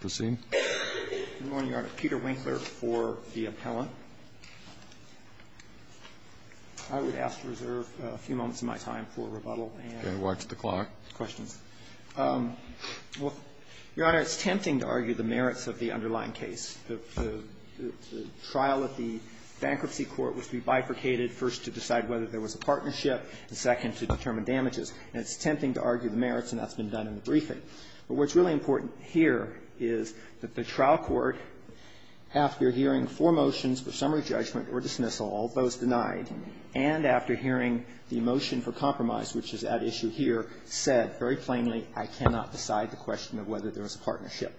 Proceeding. Good morning, Your Honor. Peter Winkler for the appellant. I would ask to reserve a few moments of my time for rebuttal and questions. Okay. Watch the clock. Well, Your Honor, it's tempting to argue the merits of the underlying case. The trial at the bankruptcy court was to be bifurcated, first to decide whether there was a partnership, and second to determine damages. And it's tempting to argue the merits, and that's been done in the briefing. But what's really important here is that the trial court, after hearing four motions for summary judgment or dismissal, all those denied, and after hearing the motion for compromise, which is at issue here, said very plainly, I cannot decide the question of whether there was a partnership.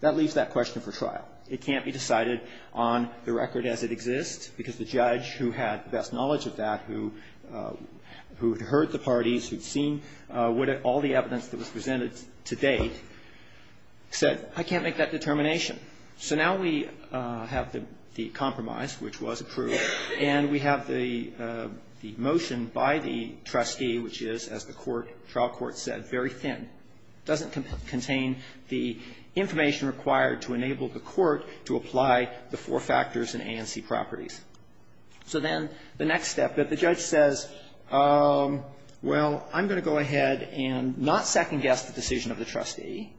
That leaves that question for trial. It can't be decided on the record as it exists, because the judge who had the best knowledge of that, who had heard the parties, who had seen all the evidence that was presented to date, said, I can't make that determination. So now we have the compromise, which was approved, and we have the motion by the trustee, which is, as the court, trial court said, very thin. It doesn't contain the information required to enable the court to apply the four factors and ANC properties. So then the next step, that the judge says, well, I'm going to go ahead and not second-guess the decision of the trustee.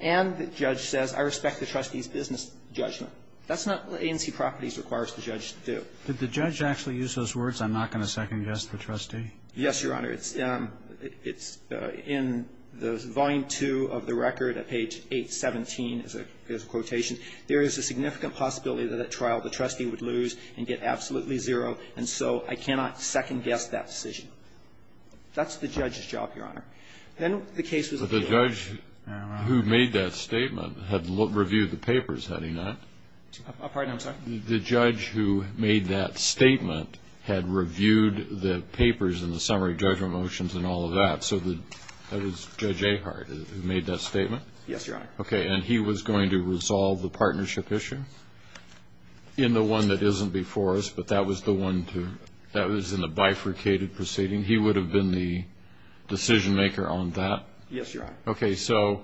And the judge says, I respect the trustee's business judgment. That's not what ANC properties requires the judge to do. Did the judge actually use those words, I'm not going to second-guess the trustee? Yes, Your Honor. It's in the volume two of the record at page 817 is a quotation. There is a significant possibility that at trial the trustee would lose and get absolutely zero, and so I cannot second-guess that decision. That's the judge's job, Your Honor. Then the case was reviewed. But the judge who made that statement had reviewed the papers, had he not? Pardon? I'm sorry? The judge who made that statement had reviewed the papers and the summary judgment motions and all of that. So that was Judge Ehart who made that statement? Yes, Your Honor. Okay. And he was going to resolve the partnership issue in the one that isn't before us, but that was the one to, that was in the bifurcated proceeding. He would have been the decision-maker on that? Yes, Your Honor. Okay, so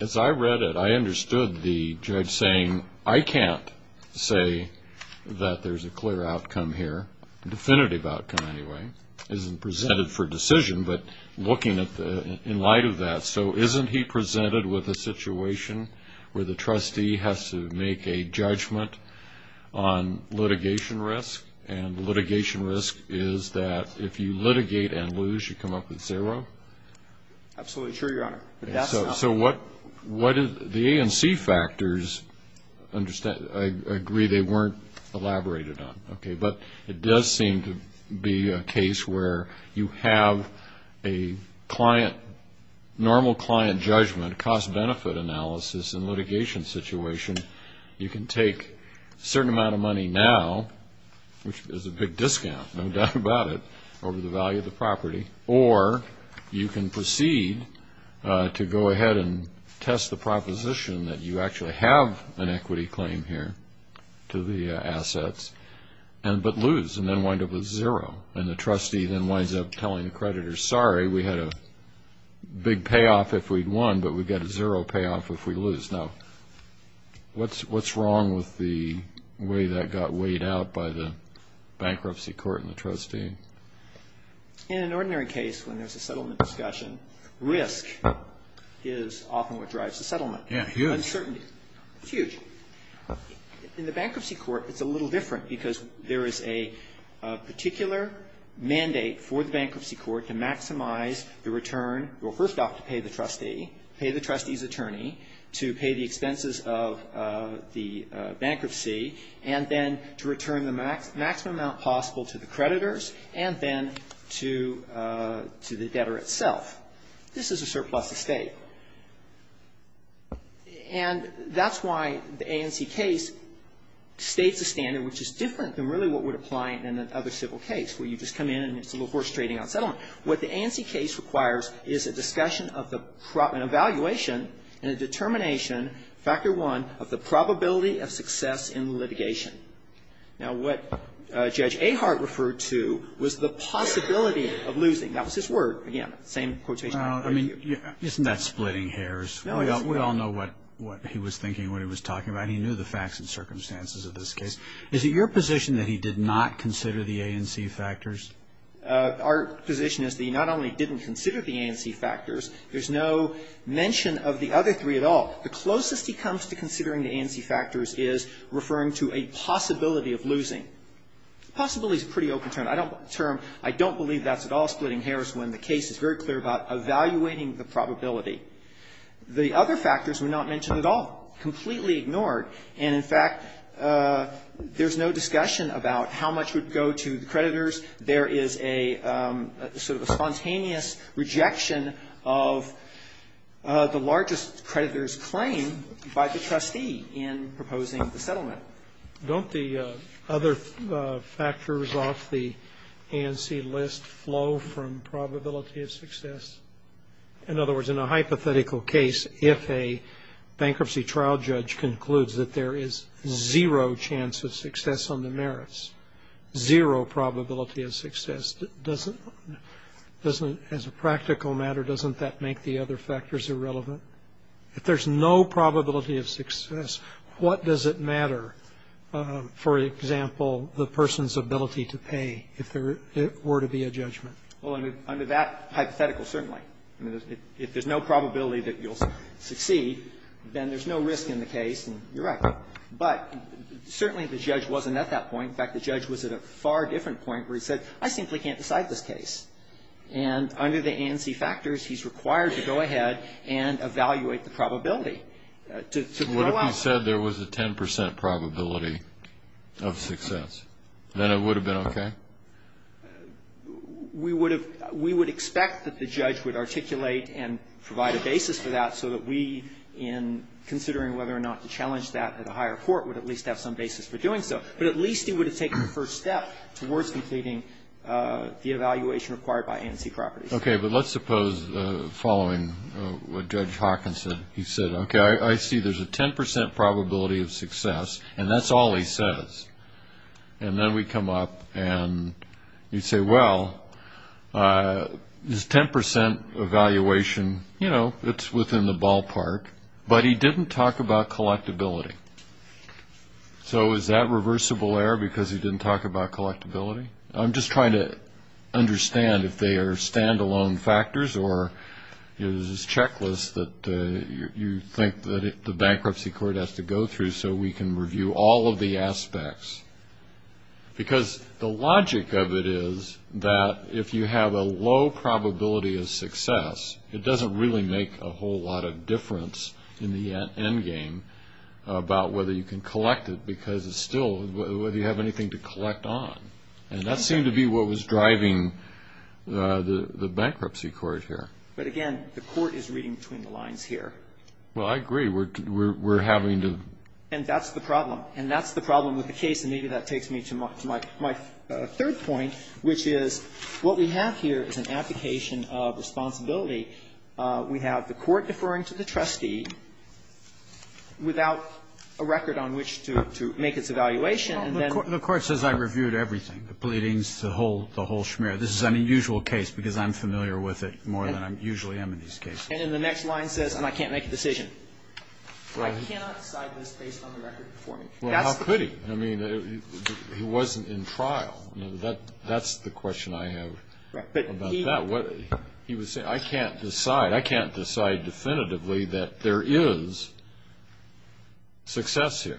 as I read it, I understood the judge saying, I can't say that there's a clear outcome here, definitive outcome anyway. It isn't presented for decision, but looking at the, in light of that, so isn't he presented with a situation where the trustee has to make a judgment on litigation risk? And litigation risk is that if you litigate and lose, you come up with zero? Absolutely true, Your Honor. So what is, the ANC factors, I agree they weren't elaborated on, okay, but it does seem to be a case where you have a client, normal client judgment, cost-benefit analysis in litigation situation, you can take a certain amount of money now, which is a big discount, no doubt about it, over the value of the property, or you can proceed to go ahead and test the proposition that you actually have an equity claim here to the assets, but lose and then wind up with zero. And the trustee then winds up telling the creditor, sorry, we had a big payoff if we'd won, but we've got a zero payoff if we lose. Now, what's wrong with the way that got weighed out by the bankruptcy court and the trustee? In an ordinary case, when there's a settlement discussion, risk is often what drives the settlement. Yeah, huge. Uncertainty, huge. In the bankruptcy court, it's a little different because there is a particular mandate for the bankruptcy court to maximize the return, well, first off, to pay the trustee, pay the trustee's attorney, to pay the expenses of the bankruptcy, and then to return the maximum amount possible to the creditors and then to the debtor itself. This is a surplus estate. And that's why the ANC case states a standard which is different than really what would apply in another civil case, where you just come in and it's a little horse trading on settlement. What the ANC case requires is a discussion of the evaluation and a determination, factor one, of the probability of success in litigation. Now, what Judge Ahart referred to was the possibility of losing. That was his word. Again, same quotation. I mean, isn't that splitting hairs? We all know what he was thinking, what he was talking about. He knew the facts and circumstances of this case. Is it your position that he did not consider the ANC factors? Our position is that he not only didn't consider the ANC factors, there's no mention of the other three at all. The closest he comes to considering the ANC factors is referring to a possibility of losing. Possibility is a pretty open term. I don't believe that's at all splitting hairs when the case is very clear about evaluating the probability. The other factors were not mentioned at all, completely ignored. And, in fact, there's no discussion about how much would go to the creditors. There is a sort of a spontaneous rejection of the largest creditor's claim by the trustee in proposing the settlement. Don't the other factors off the ANC list flow from probability of success? In other words, in a hypothetical case, if a bankruptcy trial judge concludes that there is zero chance of success on the merits, zero probability of success, doesn't as a practical matter, doesn't that make the other factors irrelevant? If there's no probability of success, what does it matter, for example, the person's ability to pay if there were to be a judgment? Well, under that hypothetical, certainly. I mean, if there's no probability that you'll succeed, then there's no risk in the case. And you're right. But certainly the judge wasn't at that point. In fact, the judge was at a far different point where he said, I simply can't decide this case. And under the ANC factors, he's required to go ahead and evaluate the probability. What if he said there was a 10 percent probability of success? Then it would have been okay? We would expect that the judge would articulate and provide a basis for that so that we, in considering whether or not to challenge that at a higher court, would at least have some basis for doing so. But at least he would have taken the first step towards completing the evaluation required by ANC properties. Okay. But let's suppose, following what Judge Hawkins said, he said, okay, I see there's a 10 percent probability of success, and that's all he says. And then we come up and you say, well, this 10 percent evaluation, you know, it's within the ballpark. But he didn't talk about collectability. So is that reversible error because he didn't talk about collectability? I'm just trying to understand if they are standalone factors or is this checklist that you think that the bankruptcy court has to go through so we can review all of the aspects. Because the logic of it is that if you have a low probability of success, it doesn't really make a whole lot of difference in the end game about whether you can collect it because it's still whether you have anything to collect on. And that seemed to be what was driving the bankruptcy court here. But again, the court is reading between the lines here. Well, I agree. We're having to. And that's the problem. And that's the problem with the case, and maybe that takes me to my third point, which is what we have here is an application of responsibility. We have the court deferring to the trustee without a record on which to make its evaluation. The court says I reviewed everything, the pleadings, the whole schmear. This is an unusual case because I'm familiar with it more than I usually am in these cases. And then the next line says, and I can't make a decision. I cannot decide this based on the record before me. Well, how could he? I mean, he wasn't in trial. That's the question I have about that. He was saying, I can't decide. I can't decide definitively that there is success here.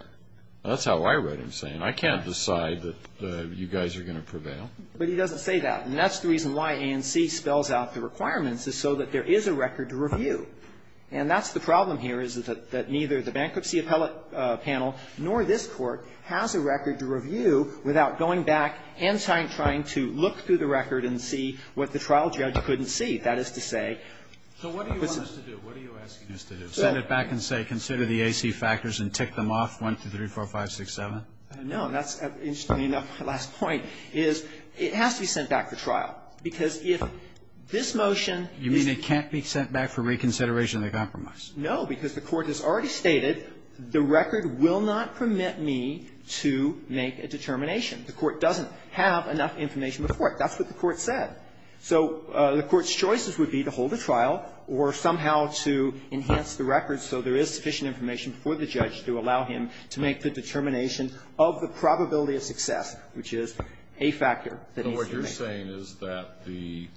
That's how I read him saying, I can't decide that you guys are going to prevail. But he doesn't say that. And that's the reason why ANC spells out the requirements, is so that there is a record to review. And that's the problem here, is that neither the bankruptcy appellate panel nor this court has a record to review without going back and trying to look through the record and see what the trial judge couldn't see. That is to say. So what do you want us to do? What are you asking us to do? Send it back and say, consider the AC factors and tick them off, 1, 2, 3, 4, 5, 6, 7? No. That's, interestingly enough, my last point, is it has to be sent back for trial. Because if this motion is... You mean it can't be sent back for reconsideration of the compromise? No. Because the Court has already stated the record will not permit me to make a determination. The Court doesn't have enough information before it. That's what the Court said. So the Court's choices would be to hold a trial or somehow to enhance the record so there is sufficient information for the judge to allow him to make the determination of the probability of success, which is a factor that needs to be made. So what you're saying is that the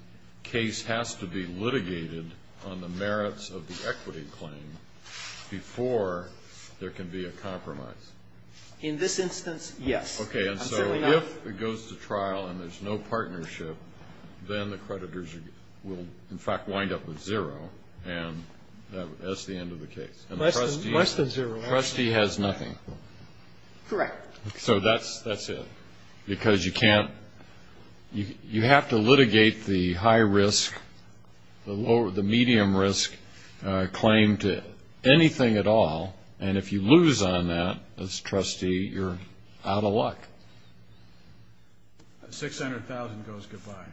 case has to be litigated on the merits of the equity claim before there can be a compromise? In this instance, yes. I'm certainly not. If it goes to trial and there's no partnership, then the creditors will, in fact, wind up with zero. And that's the end of the case. Less than zero. And the trustee has nothing. Correct. So that's it. Because you can't... You have to litigate the high-risk, the medium-risk claim to anything at all. And if you lose on that as trustee, you're out of luck. The $600,000 goes goodbye.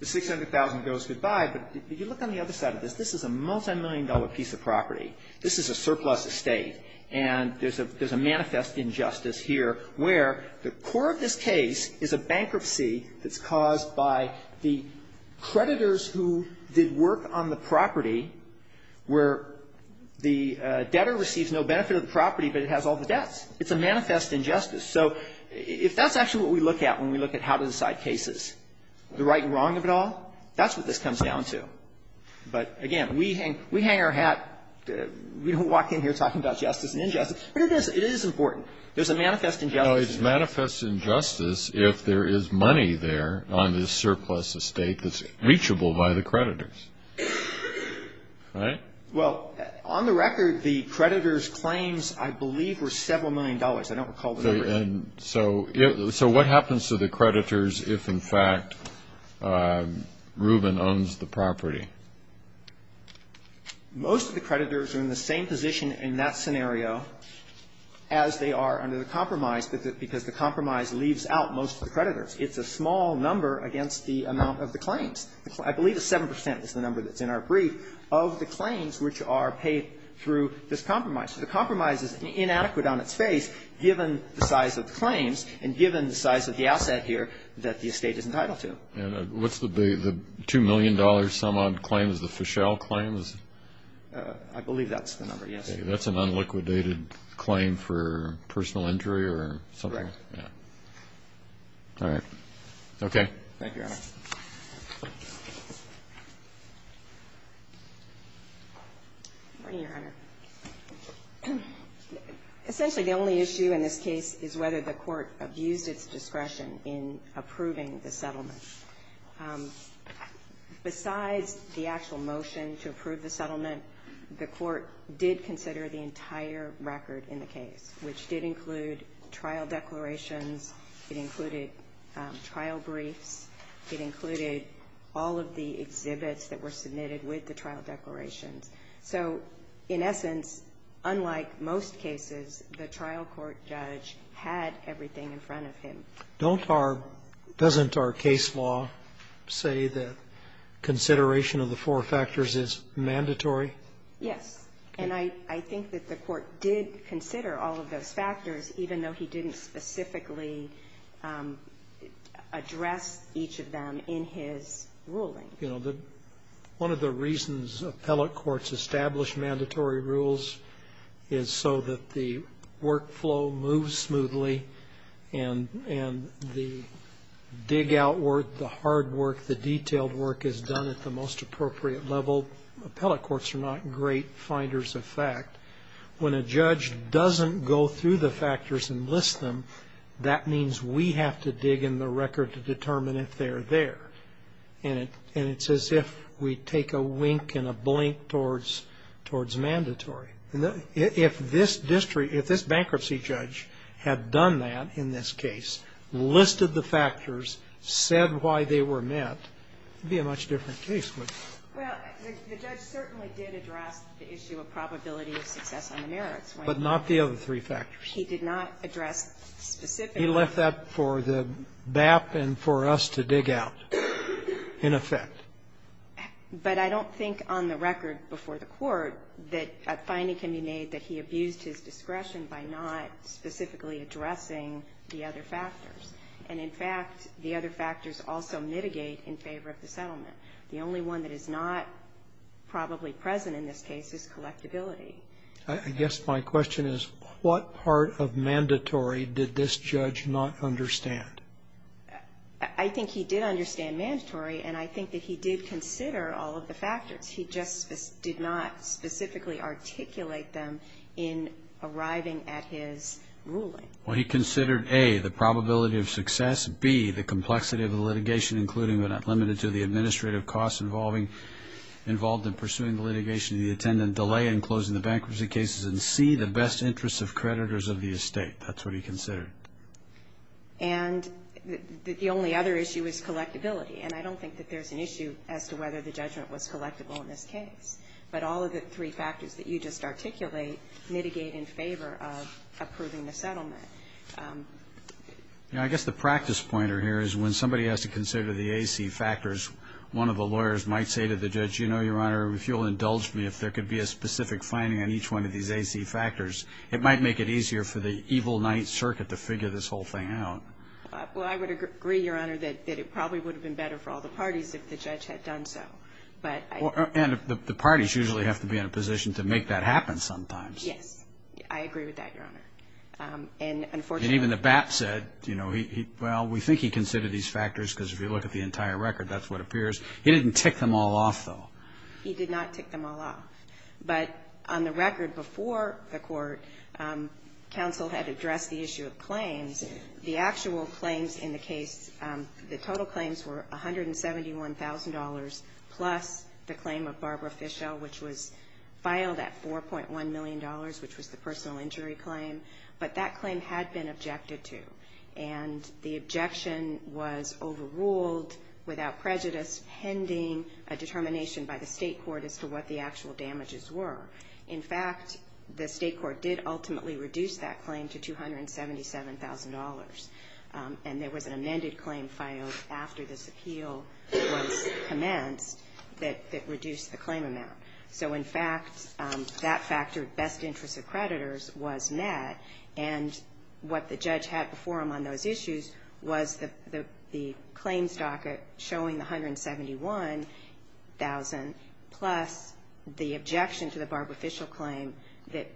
The $600,000 goes goodbye. But if you look on the other side of this, this is a multimillion-dollar piece of property. This is a surplus estate. And there's a manifest injustice here where the core of this case is a bankruptcy that's caused by the creditors who did work on the property where the debtor receives no benefit of the property, but it has all the debts. It's a manifest injustice. So if that's actually what we look at when we look at how to decide cases, the right and wrong of it all, that's what this comes down to. But, again, we hang our hat. We don't walk in here talking about justice and injustice. But it is. It is important. There's a manifest injustice. If there is money there on this surplus estate that's reachable by the creditors, right? Well, on the record, the creditors' claims, I believe, were several million dollars. I don't recall the number. So what happens to the creditors if, in fact, Rubin owns the property? Most of the creditors are in the same position in that scenario as they are under the compromise, because the compromise leaves out most of the creditors. It's a small number against the amount of the claims. I believe it's 7 percent is the number that's in our brief of the claims which are paid through this compromise. The compromise is inadequate on its face, given the size of the claims and given the size of the asset here that the estate is entitled to. And what's the $2 million sum on claims, the Fischel claims? I believe that's the number, yes. Okay. That's an unliquidated claim for personal injury or something? Right. Yeah. All right. Okay. Thank you, Your Honor. Essentially, the only issue in this case is whether the court abused its discretion in approving the settlement. Besides the actual motion to approve the settlement, the court did consider the entire record in the case, which did include trial declarations. It included trial briefs. It included all of the exhibits that were submitted with the trial declarations. So in essence, unlike most cases, the trial court judge had everything in front of him. Don't our — doesn't our case law say that consideration of the four factors is mandatory? Yes. And I think that the court did consider all of those factors, even though he didn't specifically address each of them in his ruling. You know, one of the reasons appellate courts establish mandatory rules is so that the workflow moves smoothly and the dig-out work, the hard work, the detailed work is done at the most appropriate level. Appellate courts are not great finders of fact. When a judge doesn't go through the factors and list them, that means we have to dig in the record to determine if they're there. And it's as if we take a wink and a blink towards mandatory. If this district — if this bankruptcy judge had done that in this case, listed the factors, said why they were met, it would be a much different case. Well, the judge certainly did address the issue of probability of success on the merits. But not the other three factors. He did not address specifically. He left that for the BAP and for us to dig out, in effect. But I don't think on the record before the court that a finding can be made that he abused his discretion by not specifically addressing the other factors. And, in fact, the other factors also mitigate in favor of the settlement. The only one that is not probably present in this case is collectability. I guess my question is, what part of mandatory did this judge not understand? I think he did understand mandatory, and I think that he did consider all of the factors. He just did not specifically articulate them in arriving at his ruling. Well, he considered, A, the probability of success, B, the complexity of the litigation, including but not limited to the administrative costs involved in pursuing the litigation, the attendant delay in closing the bankruptcy cases, and C, the best interests of creditors of the estate. That's what he considered. And the only other issue is collectability. And I don't think that there's an issue as to whether the judgment was collectible in this case. But all of the three factors that you just articulate mitigate in favor of approving the settlement. I guess the practice pointer here is when somebody has to consider the AC factors, one of the lawyers might say to the judge, You know, Your Honor, if you'll indulge me, if there could be a specific finding on each one of these AC factors, it might make it easier for the evil Ninth Circuit to figure this whole thing out. Well, I would agree, Your Honor, that it probably would have been better for all the parties if the judge had done so. And the parties usually have to be in a position to make that happen sometimes. Yes. I agree with that, Your Honor. And even the BAP said, you know, well, we think he considered these factors because if you look at the entire record, that's what appears. He didn't tick them all off, though. He did not tick them all off. But on the record before the court, counsel had addressed the issue of claims. The actual claims in the case, the total claims were $171,000 plus the claim of Barbara Fischel, which was filed at $4.1 million, which was the personal injury claim. But that claim had been objected to. And the objection was overruled without prejudice, pending a determination by the state court as to what the actual damages were. In fact, the state court did ultimately reduce that claim to $277,000. And there was an amended claim filed after this appeal was commenced that reduced the claim amount. So, in fact, that factored best interests of creditors was met. And what the judge had before him on those issues was the claims docket showing the $171,000 plus the objection to the Barbara Fischel claim that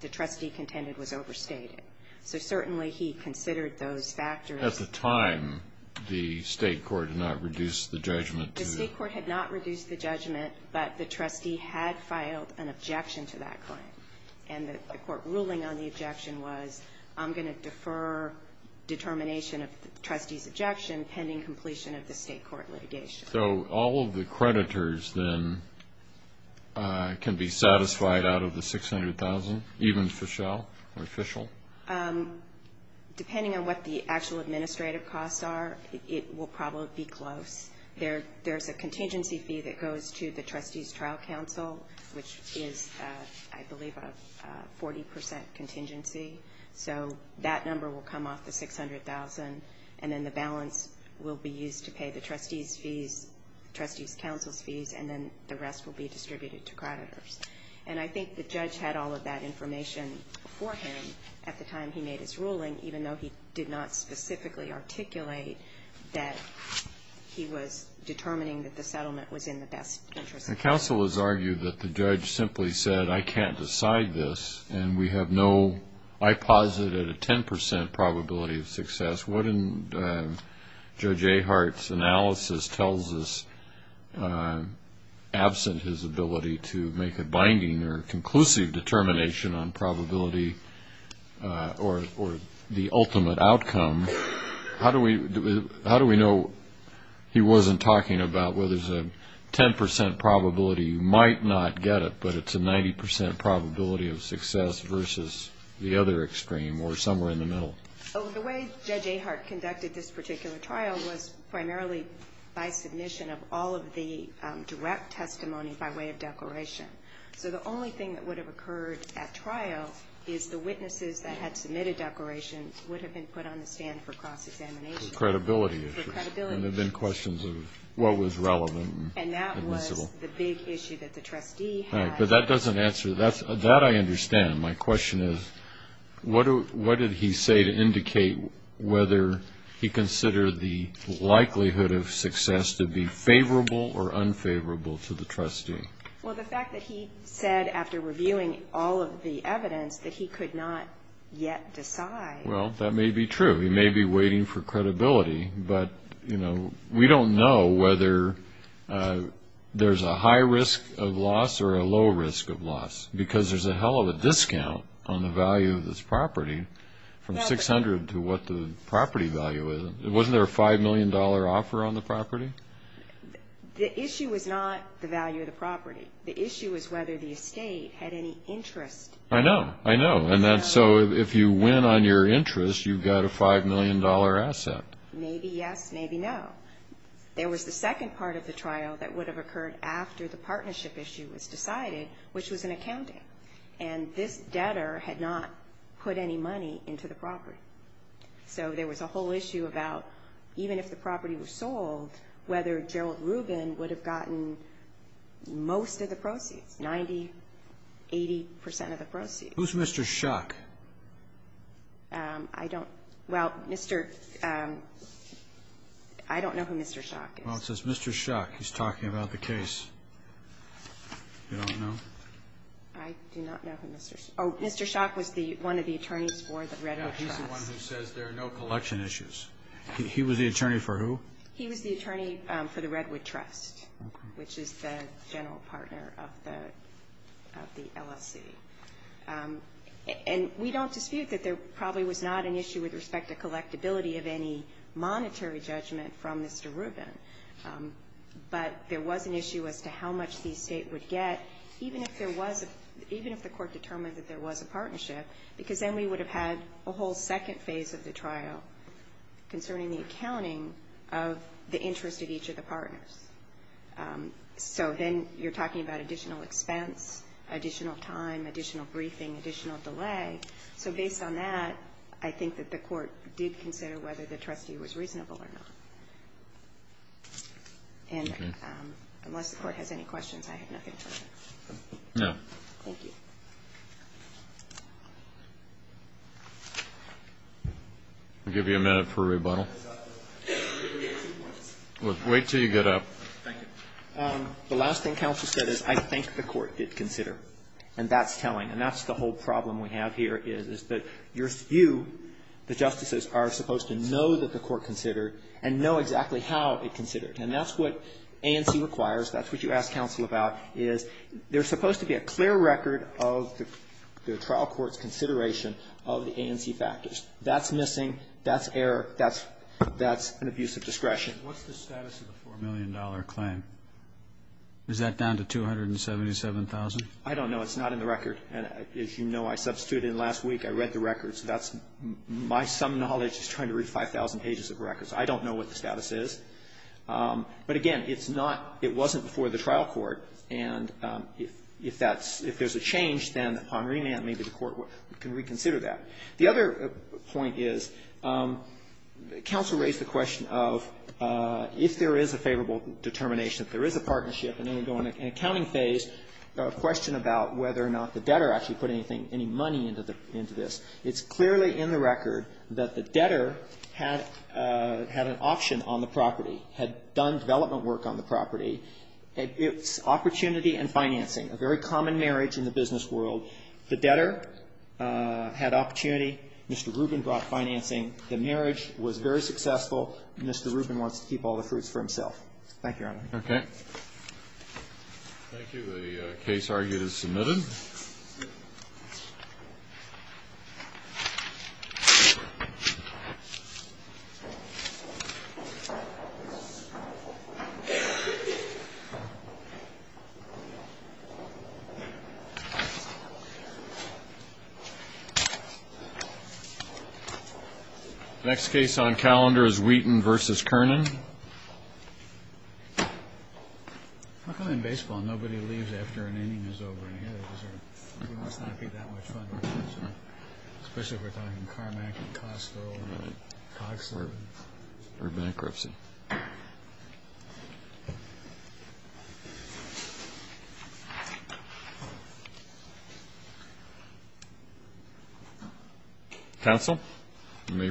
the trustee contended was overstated. So, certainly, he considered those factors. At the time, the state court did not reduce the judgment to? The state court had not reduced the judgment, but the trustee had filed an objection to that claim. And the court ruling on the objection was, I'm going to defer determination of the trustee's objection pending completion of the state court litigation. So all of the creditors then can be satisfied out of the $600,000, even Fischel or Fischel? Depending on what the actual administrative costs are, it will probably be close. There's a contingency fee that goes to the trustee's trial counsel, which is, I believe, a 40% contingency. So that number will come off the $600,000, and then the balance will be used to pay the trustee's fees, trustee's counsel's fees, and then the rest will be distributed to creditors. And I think the judge had all of that information before him at the time he made his ruling, even though he did not specifically articulate that he was determining that the settlement was in the best interest. The counsel has argued that the judge simply said, I can't decide this, and we have no, I posit, at a 10% probability of success. What in Judge Ahart's analysis tells us, absent his ability to make a binding or conclusive determination on probability or the ultimate outcome, how do we know he wasn't talking about, well, there's a 10% probability you might not get it, but it's a 90% probability of success versus the other extreme or somewhere in the middle? The way Judge Ahart conducted this particular trial was primarily by submission of all of the direct testimony by way of declaration. So the only thing that would have occurred at trial is the witnesses that had submitted declarations would have been put on the stand for cross-examination. For credibility. For credibility. And there have been questions of what was relevant. And that was the big issue that the trustee had. Right. But that doesn't answer, that I understand. My question is, what did he say to indicate whether he considered the likelihood of success to be favorable or unfavorable to the trustee? Well, the fact that he said after reviewing all of the evidence that he could not yet decide. Well, that may be true. He may be waiting for credibility. But, you know, we don't know whether there's a high risk of loss or a low risk of loss. Because there's a hell of a discount on the value of this property from $600 to what the property value is. Wasn't there a $5 million offer on the property? The issue was not the value of the property. The issue was whether the estate had any interest. I know. I know. And so if you win on your interest, you've got a $5 million asset. Maybe yes, maybe no. There was the second part of the trial that would have occurred after the partnership issue was decided, which was an accounting. And this debtor had not put any money into the property. So there was a whole issue about, even if the property was sold, whether Gerald Rubin would have gotten most of the proceeds, 90, 80 percent of the proceeds. Who's Mr. Schock? I don't. Well, Mr. ---- I don't know who Mr. Schock is. Well, it says Mr. Schock. He's talking about the case. You don't know? I do not know who Mr. Schock is. Oh, Mr. Schock was one of the attorneys for the Redwood Trust. He's the one who says there are no collection issues. He was the attorney for who? He was the attorney for the Redwood Trust, which is the general partner of the LSC. And we don't dispute that there probably was not an issue with respect to collectability of any monetary judgment from Mr. Rubin. But there was an issue as to how much the estate would get, even if there was a ---- even if the Court determined that there was a partnership, because then we would have had a whole second phase of the trial concerning the accounting of the interest of each of the partners. So then you're talking about additional expense, additional time, additional briefing, additional delay. So based on that, I think that the Court did consider whether the trustee was reasonable or not. And unless the Court has any questions, I have nothing further. No. Thank you. I'll give you a minute for rebuttal. Wait until you get up. Thank you. The last thing counsel said is, I think the Court did consider. And that's telling. And that's the whole problem we have here, is that you, the justices, are supposed to know that the Court considered and know exactly how it considered. And that's what ANC requires. That's what you ask counsel about, is there's supposed to be a clear record of the trial court's consideration of the ANC factors. That's missing. That's error. That's an abuse of discretion. What's the status of the $4 million claim? Is that down to $277,000? I don't know. It's not in the record. And as you know, I substituted it last week. I read the record. So that's my sum of knowledge is trying to read 5,000 pages of records. I don't know what the status is. But, again, it's not — it wasn't before the trial court. And if that's — if there's a change, then upon remand, maybe the Court can reconsider that. The other point is, counsel raised the question of, if there is a favorable determination, if there is a partnership, and then we go into an accounting phase, a question about whether or not the debtor actually put anything, any money into this, it's clearly in the record that the debtor had an option on the property, had done development work on the property. It's opportunity and financing, a very common marriage in the business world. The debtor had opportunity. Mr. Rubin brought financing. The marriage was very successful. Mr. Rubin wants to keep all the fruits for himself. Thank you, Your Honor. Okay. Thank you. The case argued is submitted. The next case on calendar is Wheaton v. Kernan. How come in baseball nobody leaves after an inning is over? It must not be that much fun. Especially if we're talking Carmack and Costco and Cogsworth. Or bankruptcy. Counsel, you may proceed.